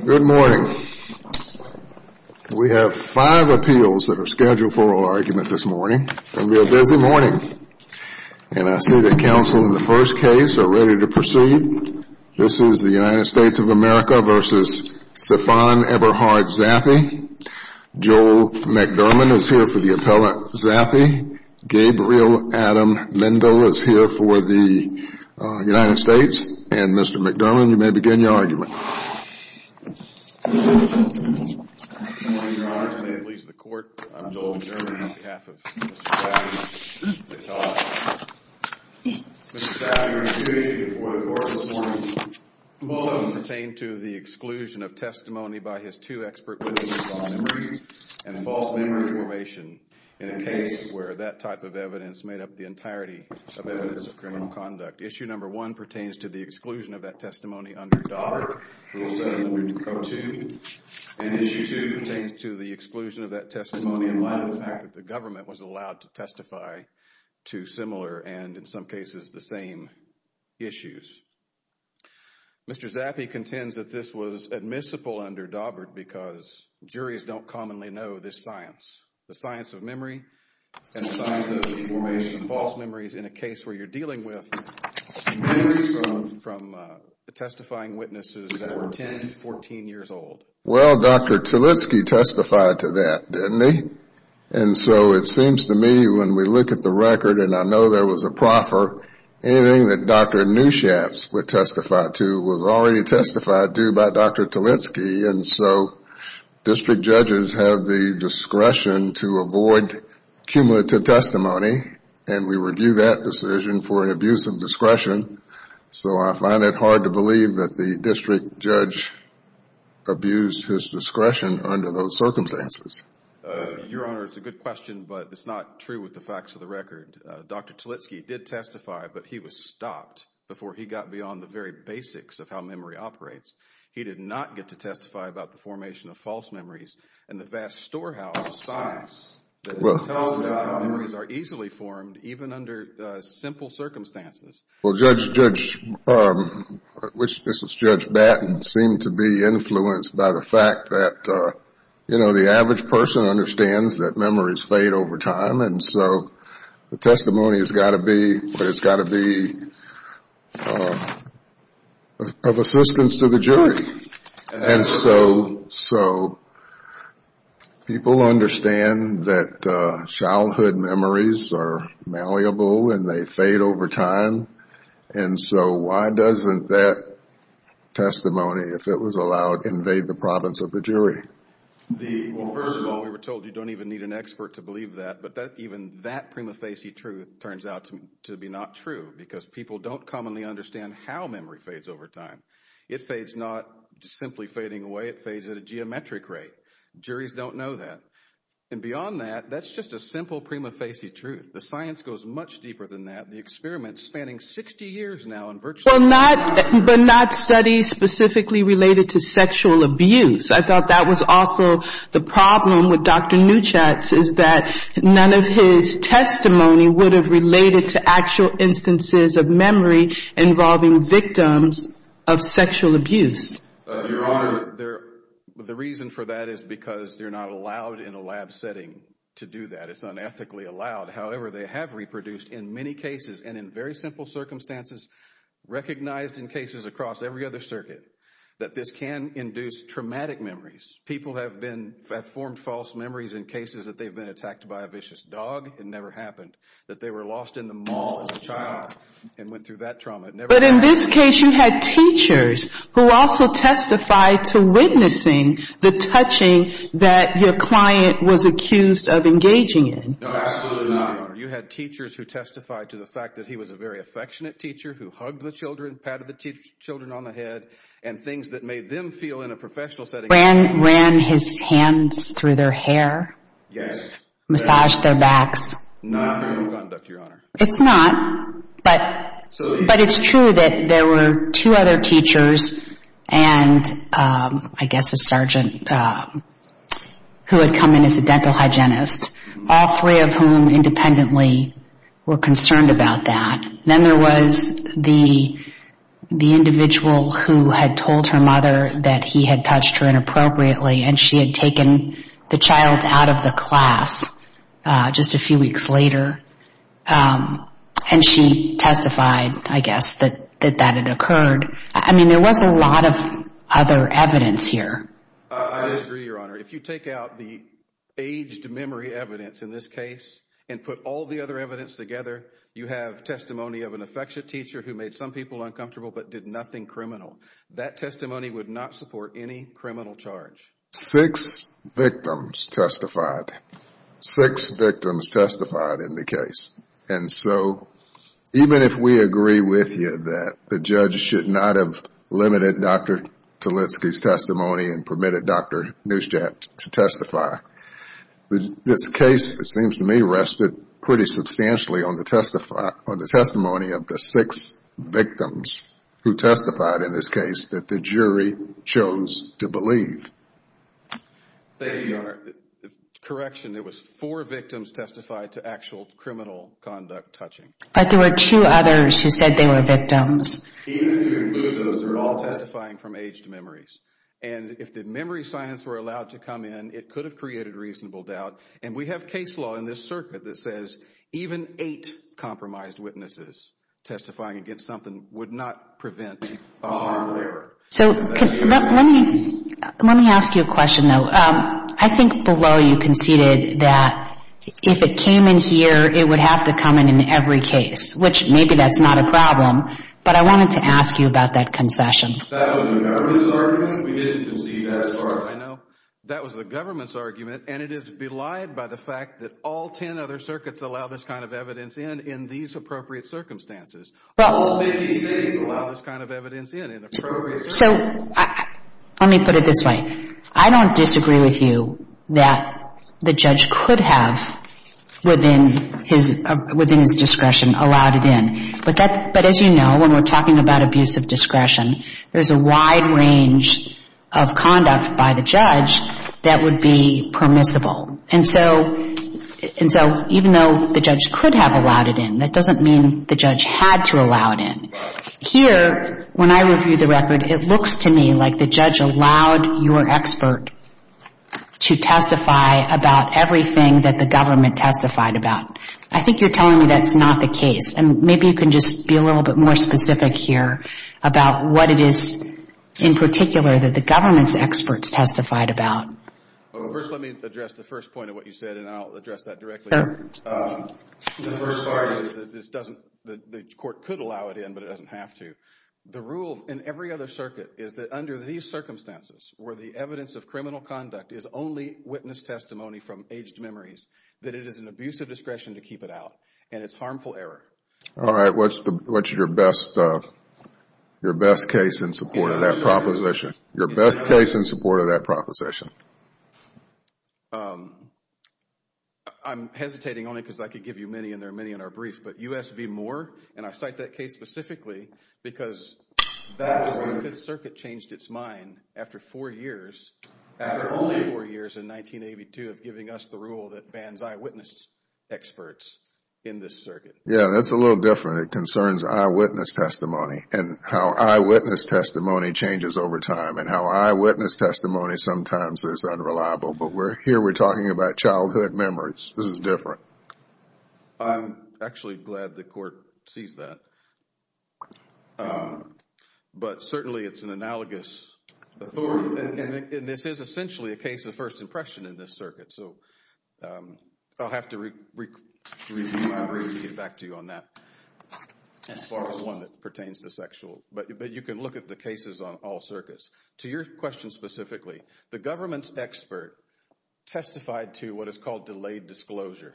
Good morning. We have 5 appeals that are scheduled for oral argument this morning. It's going to be a busy morning. And I see that counsel in the first case are ready to proceed. This is the United States of America v. Sefan Eberhard Zappey. Joel McDermott is here for the appellant Zappey. Gabriel Adam Lindo is here for the United States. And Mr. McDermott, you may begin your argument. Good morning, your honors. May it please the court, I'm Joel McDermott on behalf of Mr. Zappey. Mr. Zappey, your intuition before the court this morning, both of them pertain to the exclusion of testimony by his two expert witnesses on memory and case where that type of evidence made up the entirety of evidence of criminal conduct. Issue number one pertains to the exclusion of that testimony under Daubert, Rule 702. And issue two pertains to the exclusion of that testimony in light of the fact that the government was allowed to testify to similar and in some cases the same issues. Mr. Zappey contends that this was admissible under Daubert because juries don't commonly know this science. The science of memory and the science of the formation of false memories in a case where you're dealing with memories from the testifying witnesses that were 10 to 14 years old. Well, Dr. Talitsky testified to that, didn't he? And so it seems to me when we look at the record, and I know there was a proffer, anything that Dr. Nuschatz would testify to was already testified to by Dr. Talitsky, and so district judges have the discretion to avoid cumulative testimony, and we review that decision for an abuse of discretion. So I find it hard to believe that the district judge abused his discretion under those circumstances. Your Honor, it's a good question, but it's not true with the facts of the record. Dr. He did not get to testify about the formation of false memories and the vast storehouse of science that tells us how memories are easily formed even under simple circumstances. Well, Judge Batten seemed to be influenced by the fact that, you know, the average person understands that memories fade over time, and so the testimony has got to be of a certain persistence to the jury. And so people understand that childhood memories are malleable and they fade over time, and so why doesn't that testimony, if it was allowed, invade the province of the jury? Well, first of all, we were told you don't even need an expert to believe that, but even that prima facie truth turns out to be not true because people don't commonly understand how memory fades over time. It fades not simply fading away, it fades at a geometric rate. Juries don't know that. And beyond that, that's just a simple prima facie truth. The science goes much deeper than that. The experiment spanning 60 years now and virtually... But not studies specifically related to sexual abuse. I thought that was also the problem with Dr. Neuchatz is that none of his testimony would have related to actual instances of victims of sexual abuse. Your Honor, the reason for that is because they're not allowed in a lab setting to do that. It's unethically allowed. However, they have reproduced in many cases and in very simple circumstances, recognized in cases across every other circuit, that this can induce traumatic memories. People have formed false memories in cases that they've been attacked by a vicious dog. It never happened. That they were lost in the mall as a child and went through that trauma. But in this case, you had teachers who also testified to witnessing the touching that your client was accused of engaging in. No, absolutely not, Your Honor. You had teachers who testified to the fact that he was a very affectionate teacher who hugged the children, patted the children on the head, and things that made them feel in a professional setting... Ran his hands through their hair? Yes. Massaged their backs? Not through gun, Dr. Your Honor. It's not, but it's true that there were two other teachers and I guess a sergeant who had come in as a dental hygienist, all three of whom independently were concerned about that. Then there was the individual who had told her mother that he had touched her inappropriately and she had taken the child out of the class just a few weeks later. And she testified, I guess, that that had occurred. I mean, there was a lot of other evidence here. I disagree, Your Honor. If you take out the aged memory evidence in this case and put all the other evidence together, you have testimony of an affectionate teacher who made some people uncomfortable but did nothing criminal. That testimony would not support any criminal charge. Six victims testified. Six victims testified in the case. And so even if we agree with you that the judge should not have limited Dr. Talitsky's testimony and permitted Dr. Neustadt to testify, this case, it seems to me, rested pretty substantially on the testimony of the six victims who testified in this case that the jury chose to believe. Thank you, Your Honor. Correction, it was four victims testified to actual criminal conduct touching. But there were two others who said they were victims. Even if you include those, they were all testifying from aged memories. And if the memory science were allowed to come in, it could have created reasonable doubt. And we have case law in this circuit that says even eight compromised witnesses testifying against something would not prevent a harm. So let me ask you a question, though. I think below you conceded that if it came in here, it would have to come in in every case, which maybe that's not a problem. But I wanted to ask you about that concession. That was the government's argument. We didn't concede that as far as I know. That was the government's argument. And it is belied by the fact that all ten other circuits allow this kind of evidence in in these appropriate circumstances. All 50 states allow this kind of evidence in in appropriate circumstances. So let me put it this way. I don't disagree with you that the judge could have, within his discretion, allowed it in. But as you know, when we're talking about abuse of discretion, there's a wide range of conduct by the judge that would be permissible. And so even though the judge could have allowed it in, that doesn't mean the judge had to allow it in. Here, when I review the record, it looks to me like the judge allowed your expert to testify about everything that the government testified about. I think you're telling me that's not the case. And maybe you can just be a little bit more specific here about what it is in particular that the government's experts testified about. First, let me address the first point of what you said, and I'll address that directly. The first part is that the court could allow it in, but it doesn't have to. The rule in every other circuit is that under these circumstances, where the evidence of criminal conduct is only witness testimony from aged memories, that it is an abuse of discretion to keep it out, and it's harmful error. All right. What's your best case in support of that proposition? Your best case in support of that proposition? I'm hesitating only because I could give you many, and there are many in our brief. But U.S. v. Moore, and I cite that case specifically because that circuit changed its mind after only four years in 1982 of giving us the rule that bans eyewitness experts in this circuit. Yeah, that's a little different. It concerns eyewitness testimony and how eyewitness testimony changes over time, and how eyewitness testimony sometimes is unreliable. But here we're talking about childhood memories. This is different. I'm actually glad the court sees that. But certainly it's an analogous authority. And this is essentially a case of first impression in this circuit. So I'll have to get back to you on that as far as one that pertains to sexual. But you can look at the cases on all circuits. To your question specifically, the government's expert testified to what is called delayed disclosure.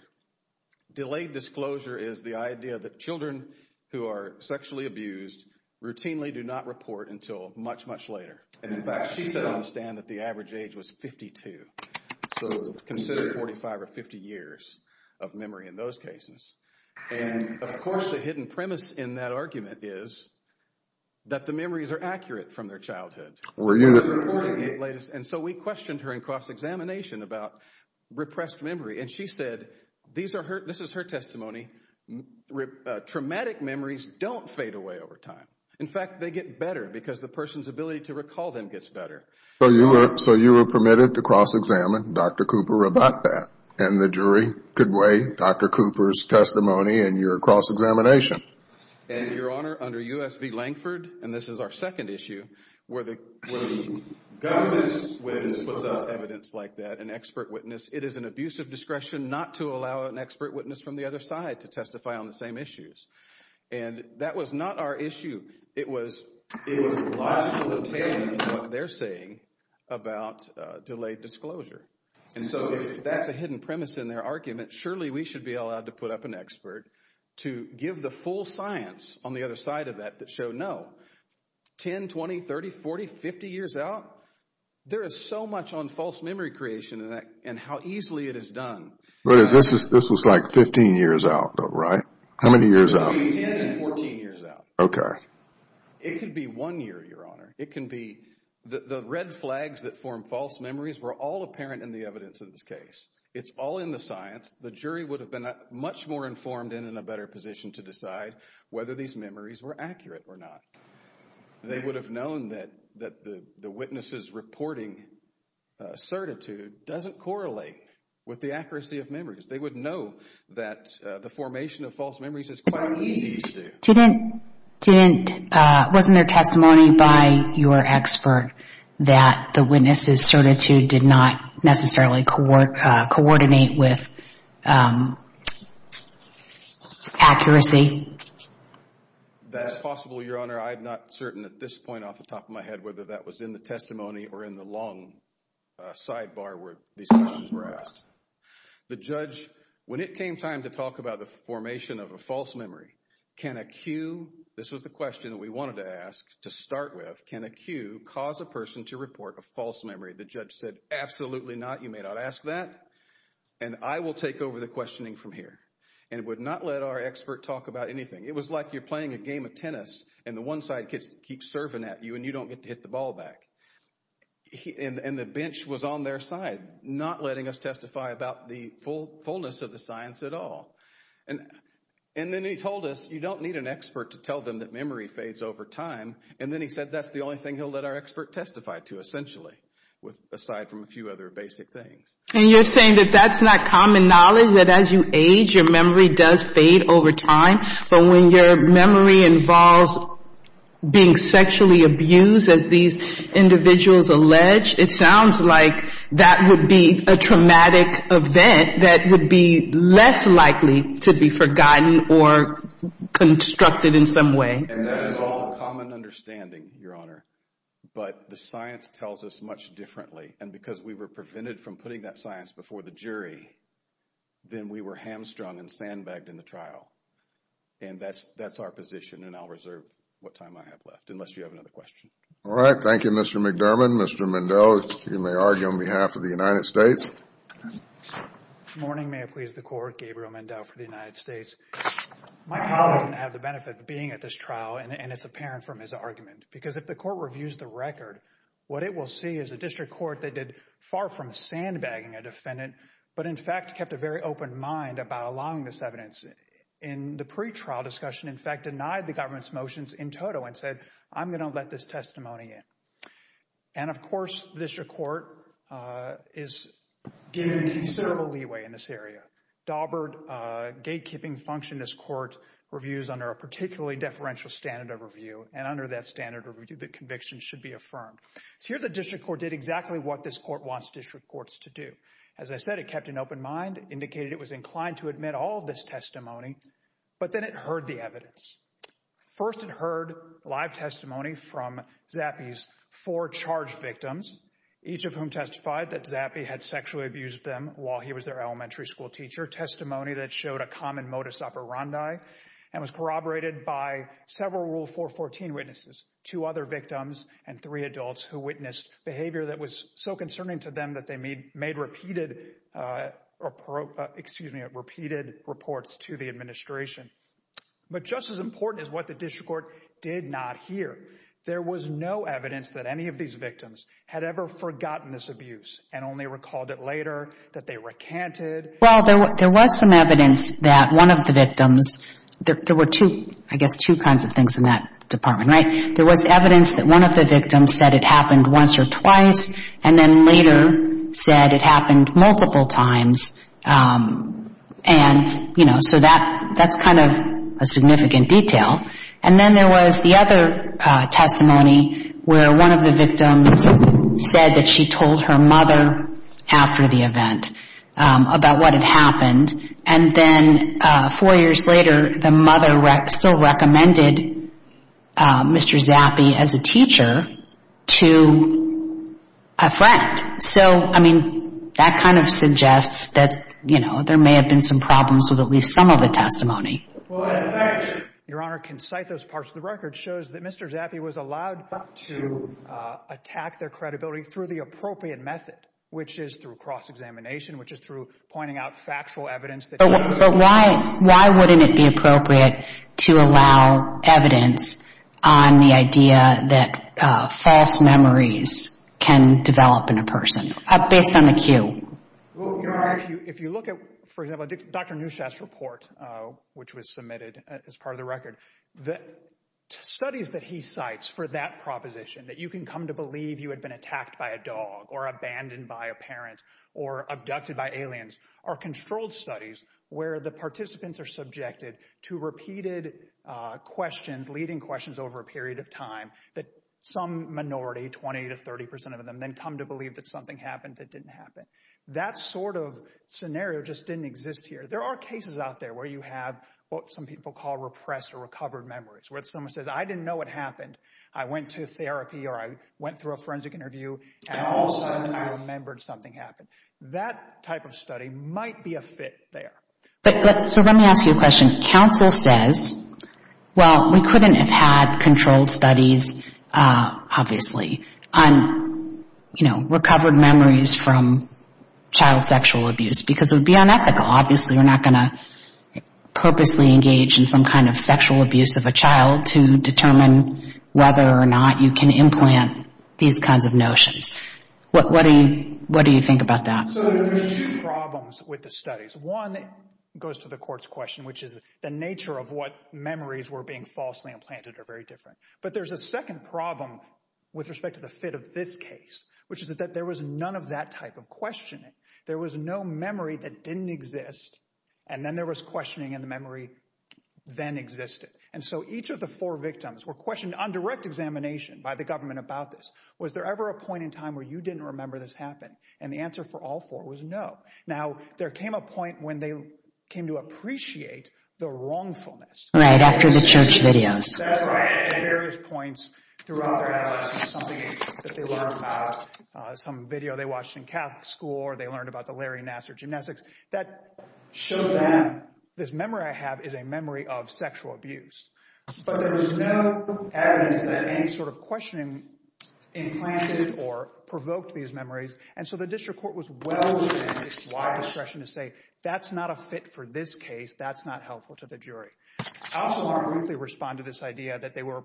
Delayed disclosure is the idea that children who are sexually abused routinely do not report until much, much later. And in fact, she said on the stand that the average age was 52. So consider 45 or 50 years of memory in those cases. And of course the hidden premise in that argument is that the memories are accurate from their childhood. And so we questioned her in cross-examination about repressed memory. And she said, this is her testimony, traumatic memories don't fade away over time. In fact, they get better because the person's ability to recall them gets better. So you were permitted to cross-examine Dr. Cooper about that. And the jury could weigh Dr. Cooper's testimony in your cross-examination. And, Your Honor, under U.S. v. Lankford, and this is our second issue, where the government's witness puts up evidence like that, an expert witness, it is an abuse of discretion not to allow an expert witness from the other side to testify on the same issues. And that was not our issue. It was logical to take what they're saying about delayed disclosure. And so that's a hidden premise in their argument. Surely we should be allowed to put up an expert to give the full science on the other side of that that showed no. 10, 20, 30, 40, 50 years out, there is so much on false memory creation and how easily it is done. But this was like 15 years out, right? How many years out? 10 and 14 years out. Okay. It could be one year, Your Honor. The red flags that form false memories were all apparent in the evidence in this case. It's all in the science. The jury would have been much more informed and in a better position to decide whether these memories were accurate or not. They would have known that the witness's reporting certitude doesn't correlate with the accuracy of memories. They would know that the formation of false memories is quite easy to do. Wasn't there testimony by your expert that the witness's certitude did not necessarily coordinate with accuracy? That's possible, Your Honor. I'm not certain at this point off the top of my head whether that was in the testimony or in the long sidebar where these questions were asked. The judge, when it came time to talk about the formation of a false memory, can a cue, this was the question that we wanted to ask to start with, can a cue cause a person to report a false memory? The judge said, absolutely not. You may not ask that. And I will take over the questioning from here and would not let our expert talk about anything. It was like you're playing a game of tennis and the one side keeps serving at you and you don't get to hit the ball back. And the bench was on their side, not letting us testify about the fullness of the science at all. And then he told us, you don't need an expert to tell them that memory fades over time. And then he said that's the only thing he'll let our expert testify to, essentially, aside from a few other basic things. And you're saying that that's not common knowledge, that as you age, your memory does fade over time? But when your memory involves being sexually abused, as these individuals allege, it sounds like that would be a traumatic event that would be less likely to be forgotten or constructed in some way. And that's all common understanding, Your Honor. But the science tells us much differently. And because we were prevented from putting that science before the jury, then we were hamstrung and sandbagged in the trial. And that's our position. And I'll reserve what time I have left, unless you have another question. All right. Thank you, Mr. McDermott. Mr. Mendel, you may argue on behalf of the United States. Good morning. May it please the Court. Gabriel Mendel for the United States. My colleague didn't have the benefit of being at this trial, and it's apparent from his argument. Because if the Court reviews the record, what it will see is a district court that did far from sandbagging a defendant, but in fact kept a very open mind about allowing this evidence in the pretrial discussion, in fact, denied the government's motions in total and said, I'm going to let this testimony in. And, of course, the district court is given considerable leeway in this area. Daubert gatekeeping function in this court reviews under a particularly deferential standard of review. And under that standard of review, the conviction should be affirmed. So here the district court did exactly what this court wants district courts to do. As I said, it kept an open mind, indicated it was inclined to admit all of this testimony. But then it heard the evidence. First, it heard live testimony from Zappi's four charged victims, each of whom testified that Zappi had sexually abused them while he was their elementary school teacher. Testimony that showed a common modus operandi and was corroborated by several Rule 414 witnesses, two other victims and three adults who witnessed behavior that was so concerning to them that they made repeated or, excuse me, repeated reports to the administration. But just as important is what the district court did not hear. There was no evidence that any of these victims had ever forgotten this abuse and only recalled it later, that they recanted. Well, there was some evidence that one of the victims there were two, I guess, two kinds of things in that department. Right. There was evidence that one of the victims said it happened once or twice and then later said it happened multiple times. And, you know, so that that's kind of a significant detail. And then there was the other testimony where one of the victims said that she told her mother after the event about what had happened. And then four years later, the mother still recommended Mr. Zappi as a teacher to a friend. So, I mean, that kind of suggests that, you know, there may have been some problems with at least some of the testimony. Your Honor, can cite those parts of the record shows that Mr. Zappi was allowed to attack their credibility through the appropriate method, which is through cross-examination, which is through pointing out factual evidence. But why? Why wouldn't it be appropriate to allow evidence on the idea that false memories can develop in a person based on a cue? Your Honor, if you look at, for example, Dr. Neuschatz's report, which was submitted as part of the record, the studies that he cites for that proposition, that you can come to believe you had been attacked by a dog or abandoned by a parent or abducted by aliens, are controlled studies where the participants are subjected to repeated questions, leading questions over a period of time, that some minority, 20 to 30 percent of them, then come to believe that something happened that didn't happen. That sort of scenario just didn't exist here. There are cases out there where you have what some people call repressed or recovered memories, where someone says, I didn't know what happened. I went to therapy or I went through a forensic interview and all of a sudden I remembered something happened. That type of study might be a fit there. So let me ask you a question. Counsel says, well, we couldn't have had controlled studies, obviously, on, you know, recovered memories from child sexual abuse because it would be unethical. Obviously, we're not going to purposely engage in some kind of sexual abuse of a child to determine whether or not you can implant these kinds of notions. What do you think about that? So there are two problems with the studies. One goes to the court's question, which is the nature of what memories were being falsely implanted are very different. But there's a second problem with respect to the fit of this case, which is that there was none of that type of questioning. There was no memory that didn't exist. And then there was questioning and the memory then existed. And so each of the four victims were questioned on direct examination by the government about this. Was there ever a point in time where you didn't remember this happened? And the answer for all four was no. Now, there came a point when they came to appreciate the wrongfulness. Right after the church videos. At various points throughout their adolescence, something that they learned about, some video they watched in Catholic school, or they learned about the Larry Nassar gymnastics that showed them this memory I have is a memory of sexual abuse. But there was no evidence that any sort of questioning implanted or provoked these memories. And so the district court was well. It's why discretion to say that's not a fit for this case. That's not helpful to the jury. Also, they respond to this idea that they were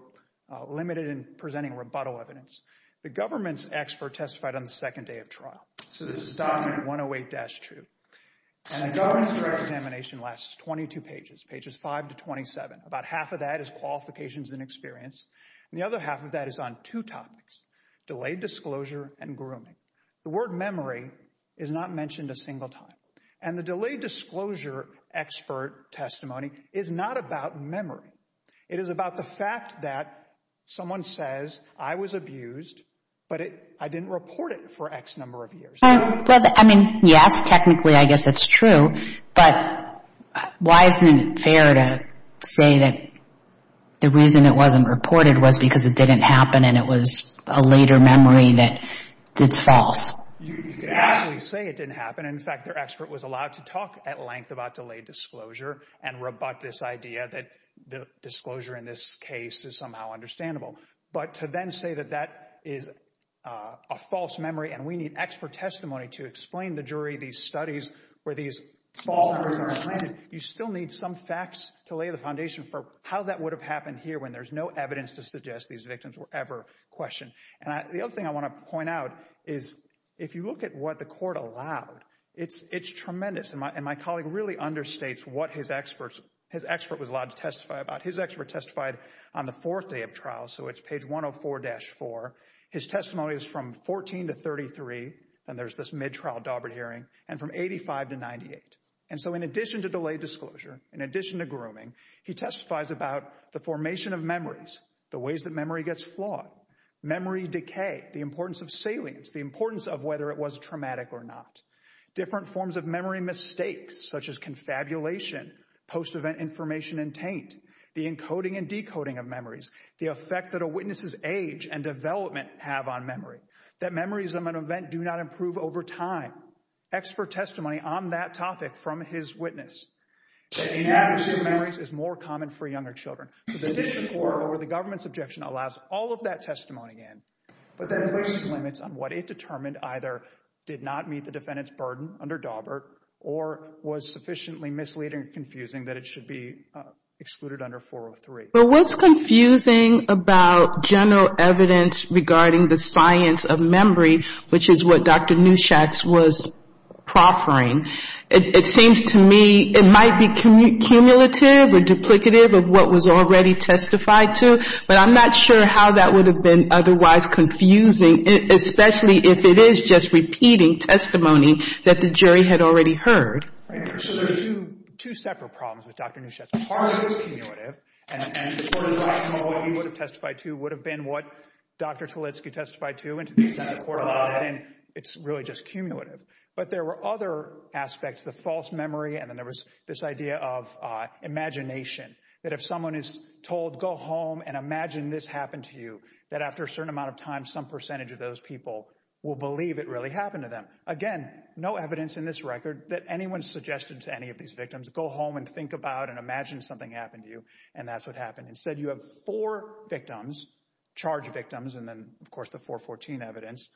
limited in presenting rebuttal evidence. The government's expert testified on the second day of trial. So this is not one to wait. That's true. Examination lasts 22 pages, pages five to twenty seven. About half of that is qualifications and experience. And the other half of that is on two topics. Delayed disclosure and grooming. The word memory is not mentioned a single time. And the delayed disclosure expert testimony is not about memory. It is about the fact that someone says I was abused, but I didn't report it for X number of years. Well, I mean, yes, technically, I guess that's true. But why isn't it fair to say that the reason it wasn't reported was because it didn't happen and it was a later memory that it's false? You could actually say it didn't happen. In fact, their expert was allowed to talk at length about delayed disclosure and rebut this idea that the disclosure in this case is somehow understandable. But to then say that that is a false memory and we need expert testimony to explain the jury, these studies where these fall. You still need some facts to lay the foundation for how that would have happened here when there's no evidence to suggest these victims were ever questioned. And the other thing I want to point out is if you look at what the court allowed, it's it's tremendous. And my colleague really understates what his experts his expert was allowed to testify about. His expert testified on the fourth day of trial. So it's page one of four dash four. His testimony is from 14 to 33. And there's this midtrial Daubert hearing. And from 85 to 98. And so in addition to delayed disclosure, in addition to grooming, he testifies about the formation of memories, the ways that memory gets flawed. Memory decay, the importance of salience, the importance of whether it was traumatic or not. Different forms of memory mistakes such as confabulation, post-event information and taint the encoding and decoding of memories. The effect that a witness's age and development have on memory, that memories of an event do not improve over time. Expert testimony on that topic from his witness. Inaccuracy of memories is more common for younger children. The government's objection allows all of that testimony in. But that places limits on what it determined either did not meet the defendant's burden under Daubert or was sufficiently misleading and confusing that it should be excluded under 403. But what's confusing about general evidence regarding the science of memory, which is what Dr. Neuschatz was proffering. It seems to me it might be cumulative or duplicative of what was already testified to. But I'm not sure how that would have been otherwise confusing, especially if it is just repeating testimony that the jury had already heard. So there are two separate problems with Dr. Neuschatz. One part of it is cumulative. And the part of the testimony he would have testified to would have been what Dr. Tolitsky testified to and to the extent the court allowed that. And it's really just cumulative. But there were other aspects, the false memory. And then there was this idea of imagination that if someone is told, go home and imagine this happened to you, that after a certain amount of time, some percentage of those people will believe it really happened to them. Again, no evidence in this record that anyone suggested to any of these victims go home and think about and imagine something happened to you. And that's what happened. Instead, you have four victims, charged victims, and then, of course, the 414 evidence,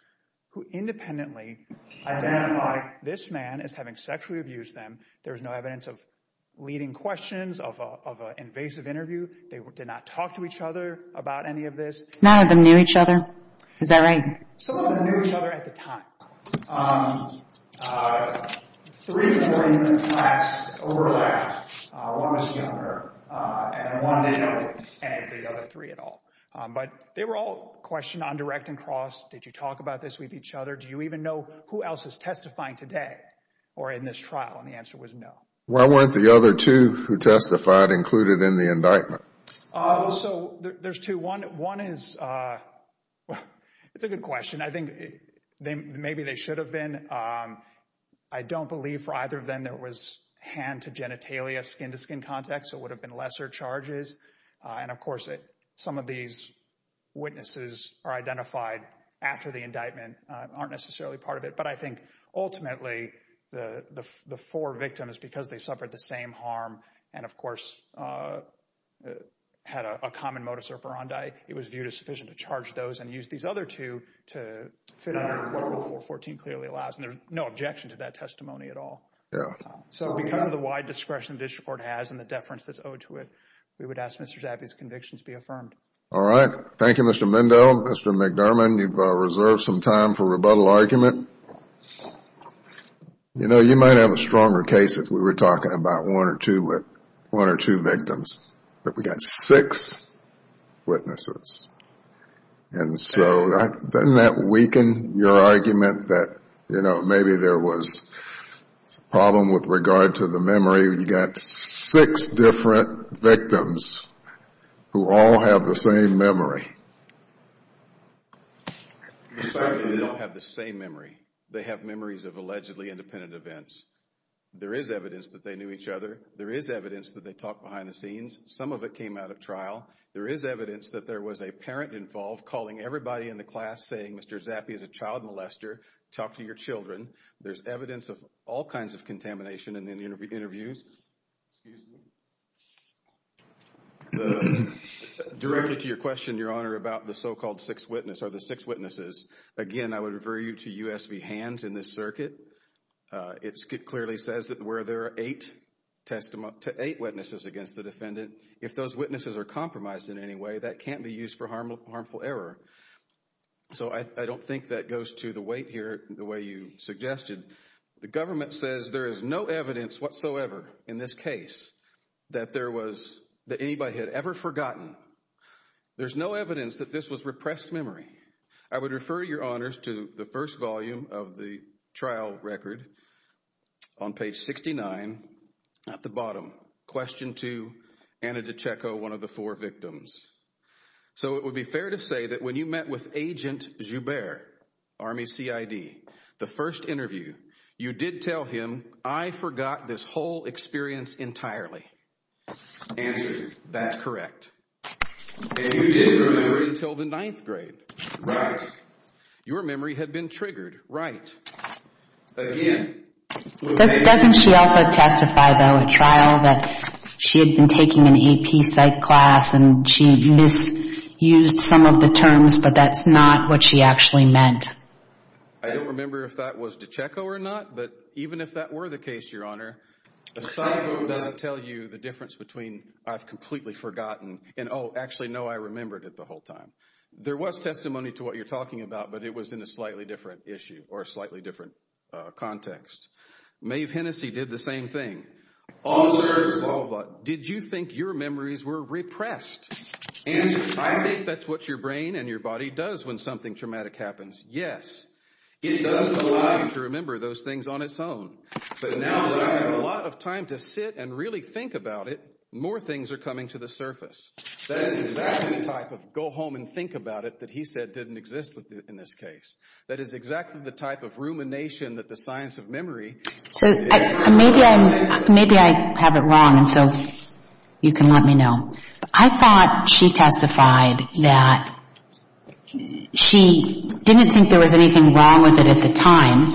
who independently identify this man as having sexually abused them. There was no evidence of leading questions, of an invasive interview. They did not talk to each other about any of this. None of them knew each other? Is that right? Some of them knew each other at the time. No. Three different facts overlapped. One was younger, and one didn't know any of the other three at all. But they were all questioned on direct and cross. Did you talk about this with each other? Do you even know who else is testifying today or in this trial? And the answer was no. Why weren't the other two who testified included in the indictment? So there's two. One is – it's a good question. I think maybe they should have been. I don't believe for either of them there was hand-to-genitalia, skin-to-skin contact, so it would have been lesser charges. And, of course, some of these witnesses are identified after the indictment, aren't necessarily part of it. But I think ultimately the four victims, because they suffered the same harm and, of course, had a common modus operandi, it was viewed as sufficient to charge those and use these other two to fit under what Rule 414 clearly allows. And there's no objection to that testimony at all. So because of the wide discretion the district court has and the deference that's owed to it, we would ask Mr. Zappi's convictions be affirmed. All right. Thank you, Mr. Mendo. Well, Mr. McDermott, you've reserved some time for rebuttal argument. You know, you might have a stronger case if we were talking about one or two victims. But we've got six witnesses. And so doesn't that weaken your argument that, you know, maybe there was a problem with regard to the memory? Maybe you've got six different victims who all have the same memory. They don't have the same memory. They have memories of allegedly independent events. There is evidence that they knew each other. There is evidence that they talked behind the scenes. Some of it came out of trial. There is evidence that there was a parent involved calling everybody in the class saying, Mr. Zappi is a child molester, talk to your children. There is evidence of all kinds of contamination in the interviews. Excuse me. Directed to your question, Your Honor, about the so-called six witnesses. Again, I would refer you to U.S. v. Hands in this circuit. It clearly says that where there are eight witnesses against the defendant, if those witnesses are compromised in any way, that can't be used for harmful error. So I don't think that goes to the weight here the way you suggested. The government says there is no evidence whatsoever in this case that anybody had ever forgotten. There's no evidence that this was repressed memory. I would refer, Your Honors, to the first volume of the trial record on page 69 at the bottom, Question 2, Anna DiCecco, one of the four victims. So it would be fair to say that when you met with Agent Joubert, Army CID, the first interview, you did tell him, I forgot this whole experience entirely. Answered, that's correct. And you didn't remember it until the ninth grade. Right. Your memory had been triggered. Again. Doesn't she also testify, though, at trial that she had been taking an AP psych class and she misused some of the terms, but that's not what she actually meant? I don't remember if that was DiCecco or not, but even if that were the case, Your Honor, a psycho doesn't tell you the difference between I've completely forgotten and, oh, actually, no, I remembered it the whole time. There was testimony to what you're talking about, but it was in a slightly different issue or a slightly different context. Maeve Hennessey did the same thing. Did you think your memories were repressed? Answered, I think that's what your brain and your body does when something traumatic happens. It doesn't allow you to remember those things on its own. But now that I have a lot of time to sit and really think about it, more things are coming to the surface. That is exactly the type of go-home-and-think-about-it that he said didn't exist in this case. That is exactly the type of rumination that the science of memory is. So maybe I have it wrong, and so you can let me know. I thought she testified that she didn't think there was anything wrong with it at the time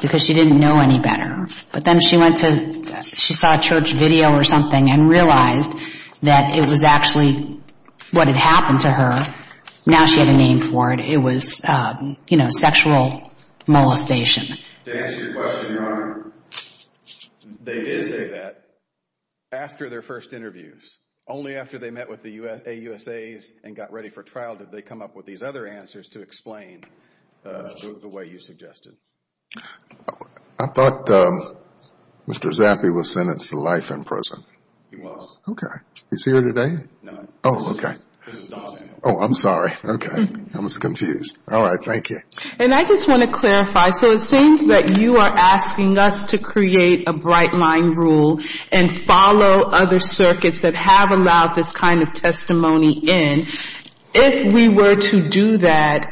because she didn't know any better. But then she went to, she saw a church video or something and realized that it was actually what had happened to her. Now she had a name for it. It was, you know, sexual molestation. To answer your question, Your Honor, they did say that after their first interviews, only after they met with the AUSAs and got ready for trial did they come up with these other answers to explain the way you suggested. I thought Mr. Zappi was sentenced to life in prison. He was. Okay. He's here today? No. Oh, okay. Oh, I'm sorry. Okay. I was confused. All right. Thank you. And I just want to clarify. So it seems that you are asking us to create a bright line rule and follow other circuits that have allowed this kind of testimony in. If we were to do that,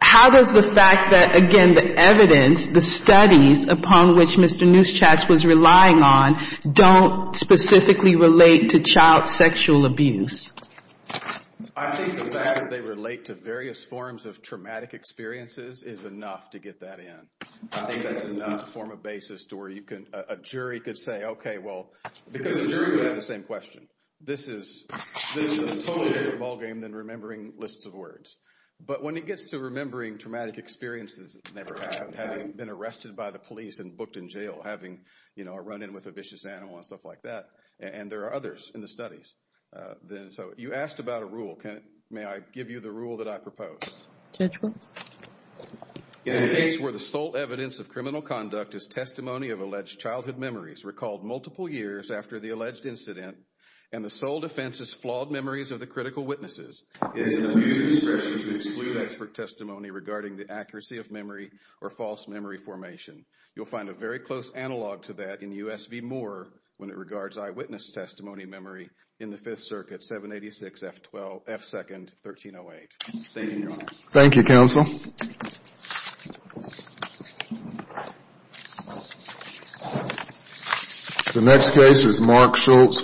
how does the fact that, again, the evidence, the studies upon which Mr. Neuschatz was relying on don't specifically relate to child sexual abuse? I think the fact that they relate to various forms of traumatic experiences is enough to get that in. I think that's enough form of basis to where a jury could say, okay, well, because a jury would have the same question. This is a totally different ballgame than remembering lists of words. But when it gets to remembering traumatic experiences that never happened, having been arrested by the police and booked in jail, having run in with a vicious animal and stuff like that, and there are others in the studies. So you asked about a rule. May I give you the rule that I proposed? Judge, please. In a case where the sole evidence of criminal conduct is testimony of alleged childhood memories recalled multiple years after the alleged incident and the sole defense is flawed memories of the critical witnesses, it is unusual especially to exclude expert testimony regarding the accuracy of memory or false memory formation. You'll find a very close analog to that in U.S. v. Moore when it regards eyewitness testimony memory in the Fifth Circuit, 786 F2nd 1308. Thank you, Your Honor. Thank you, Counsel. The next case is Mark Schultz.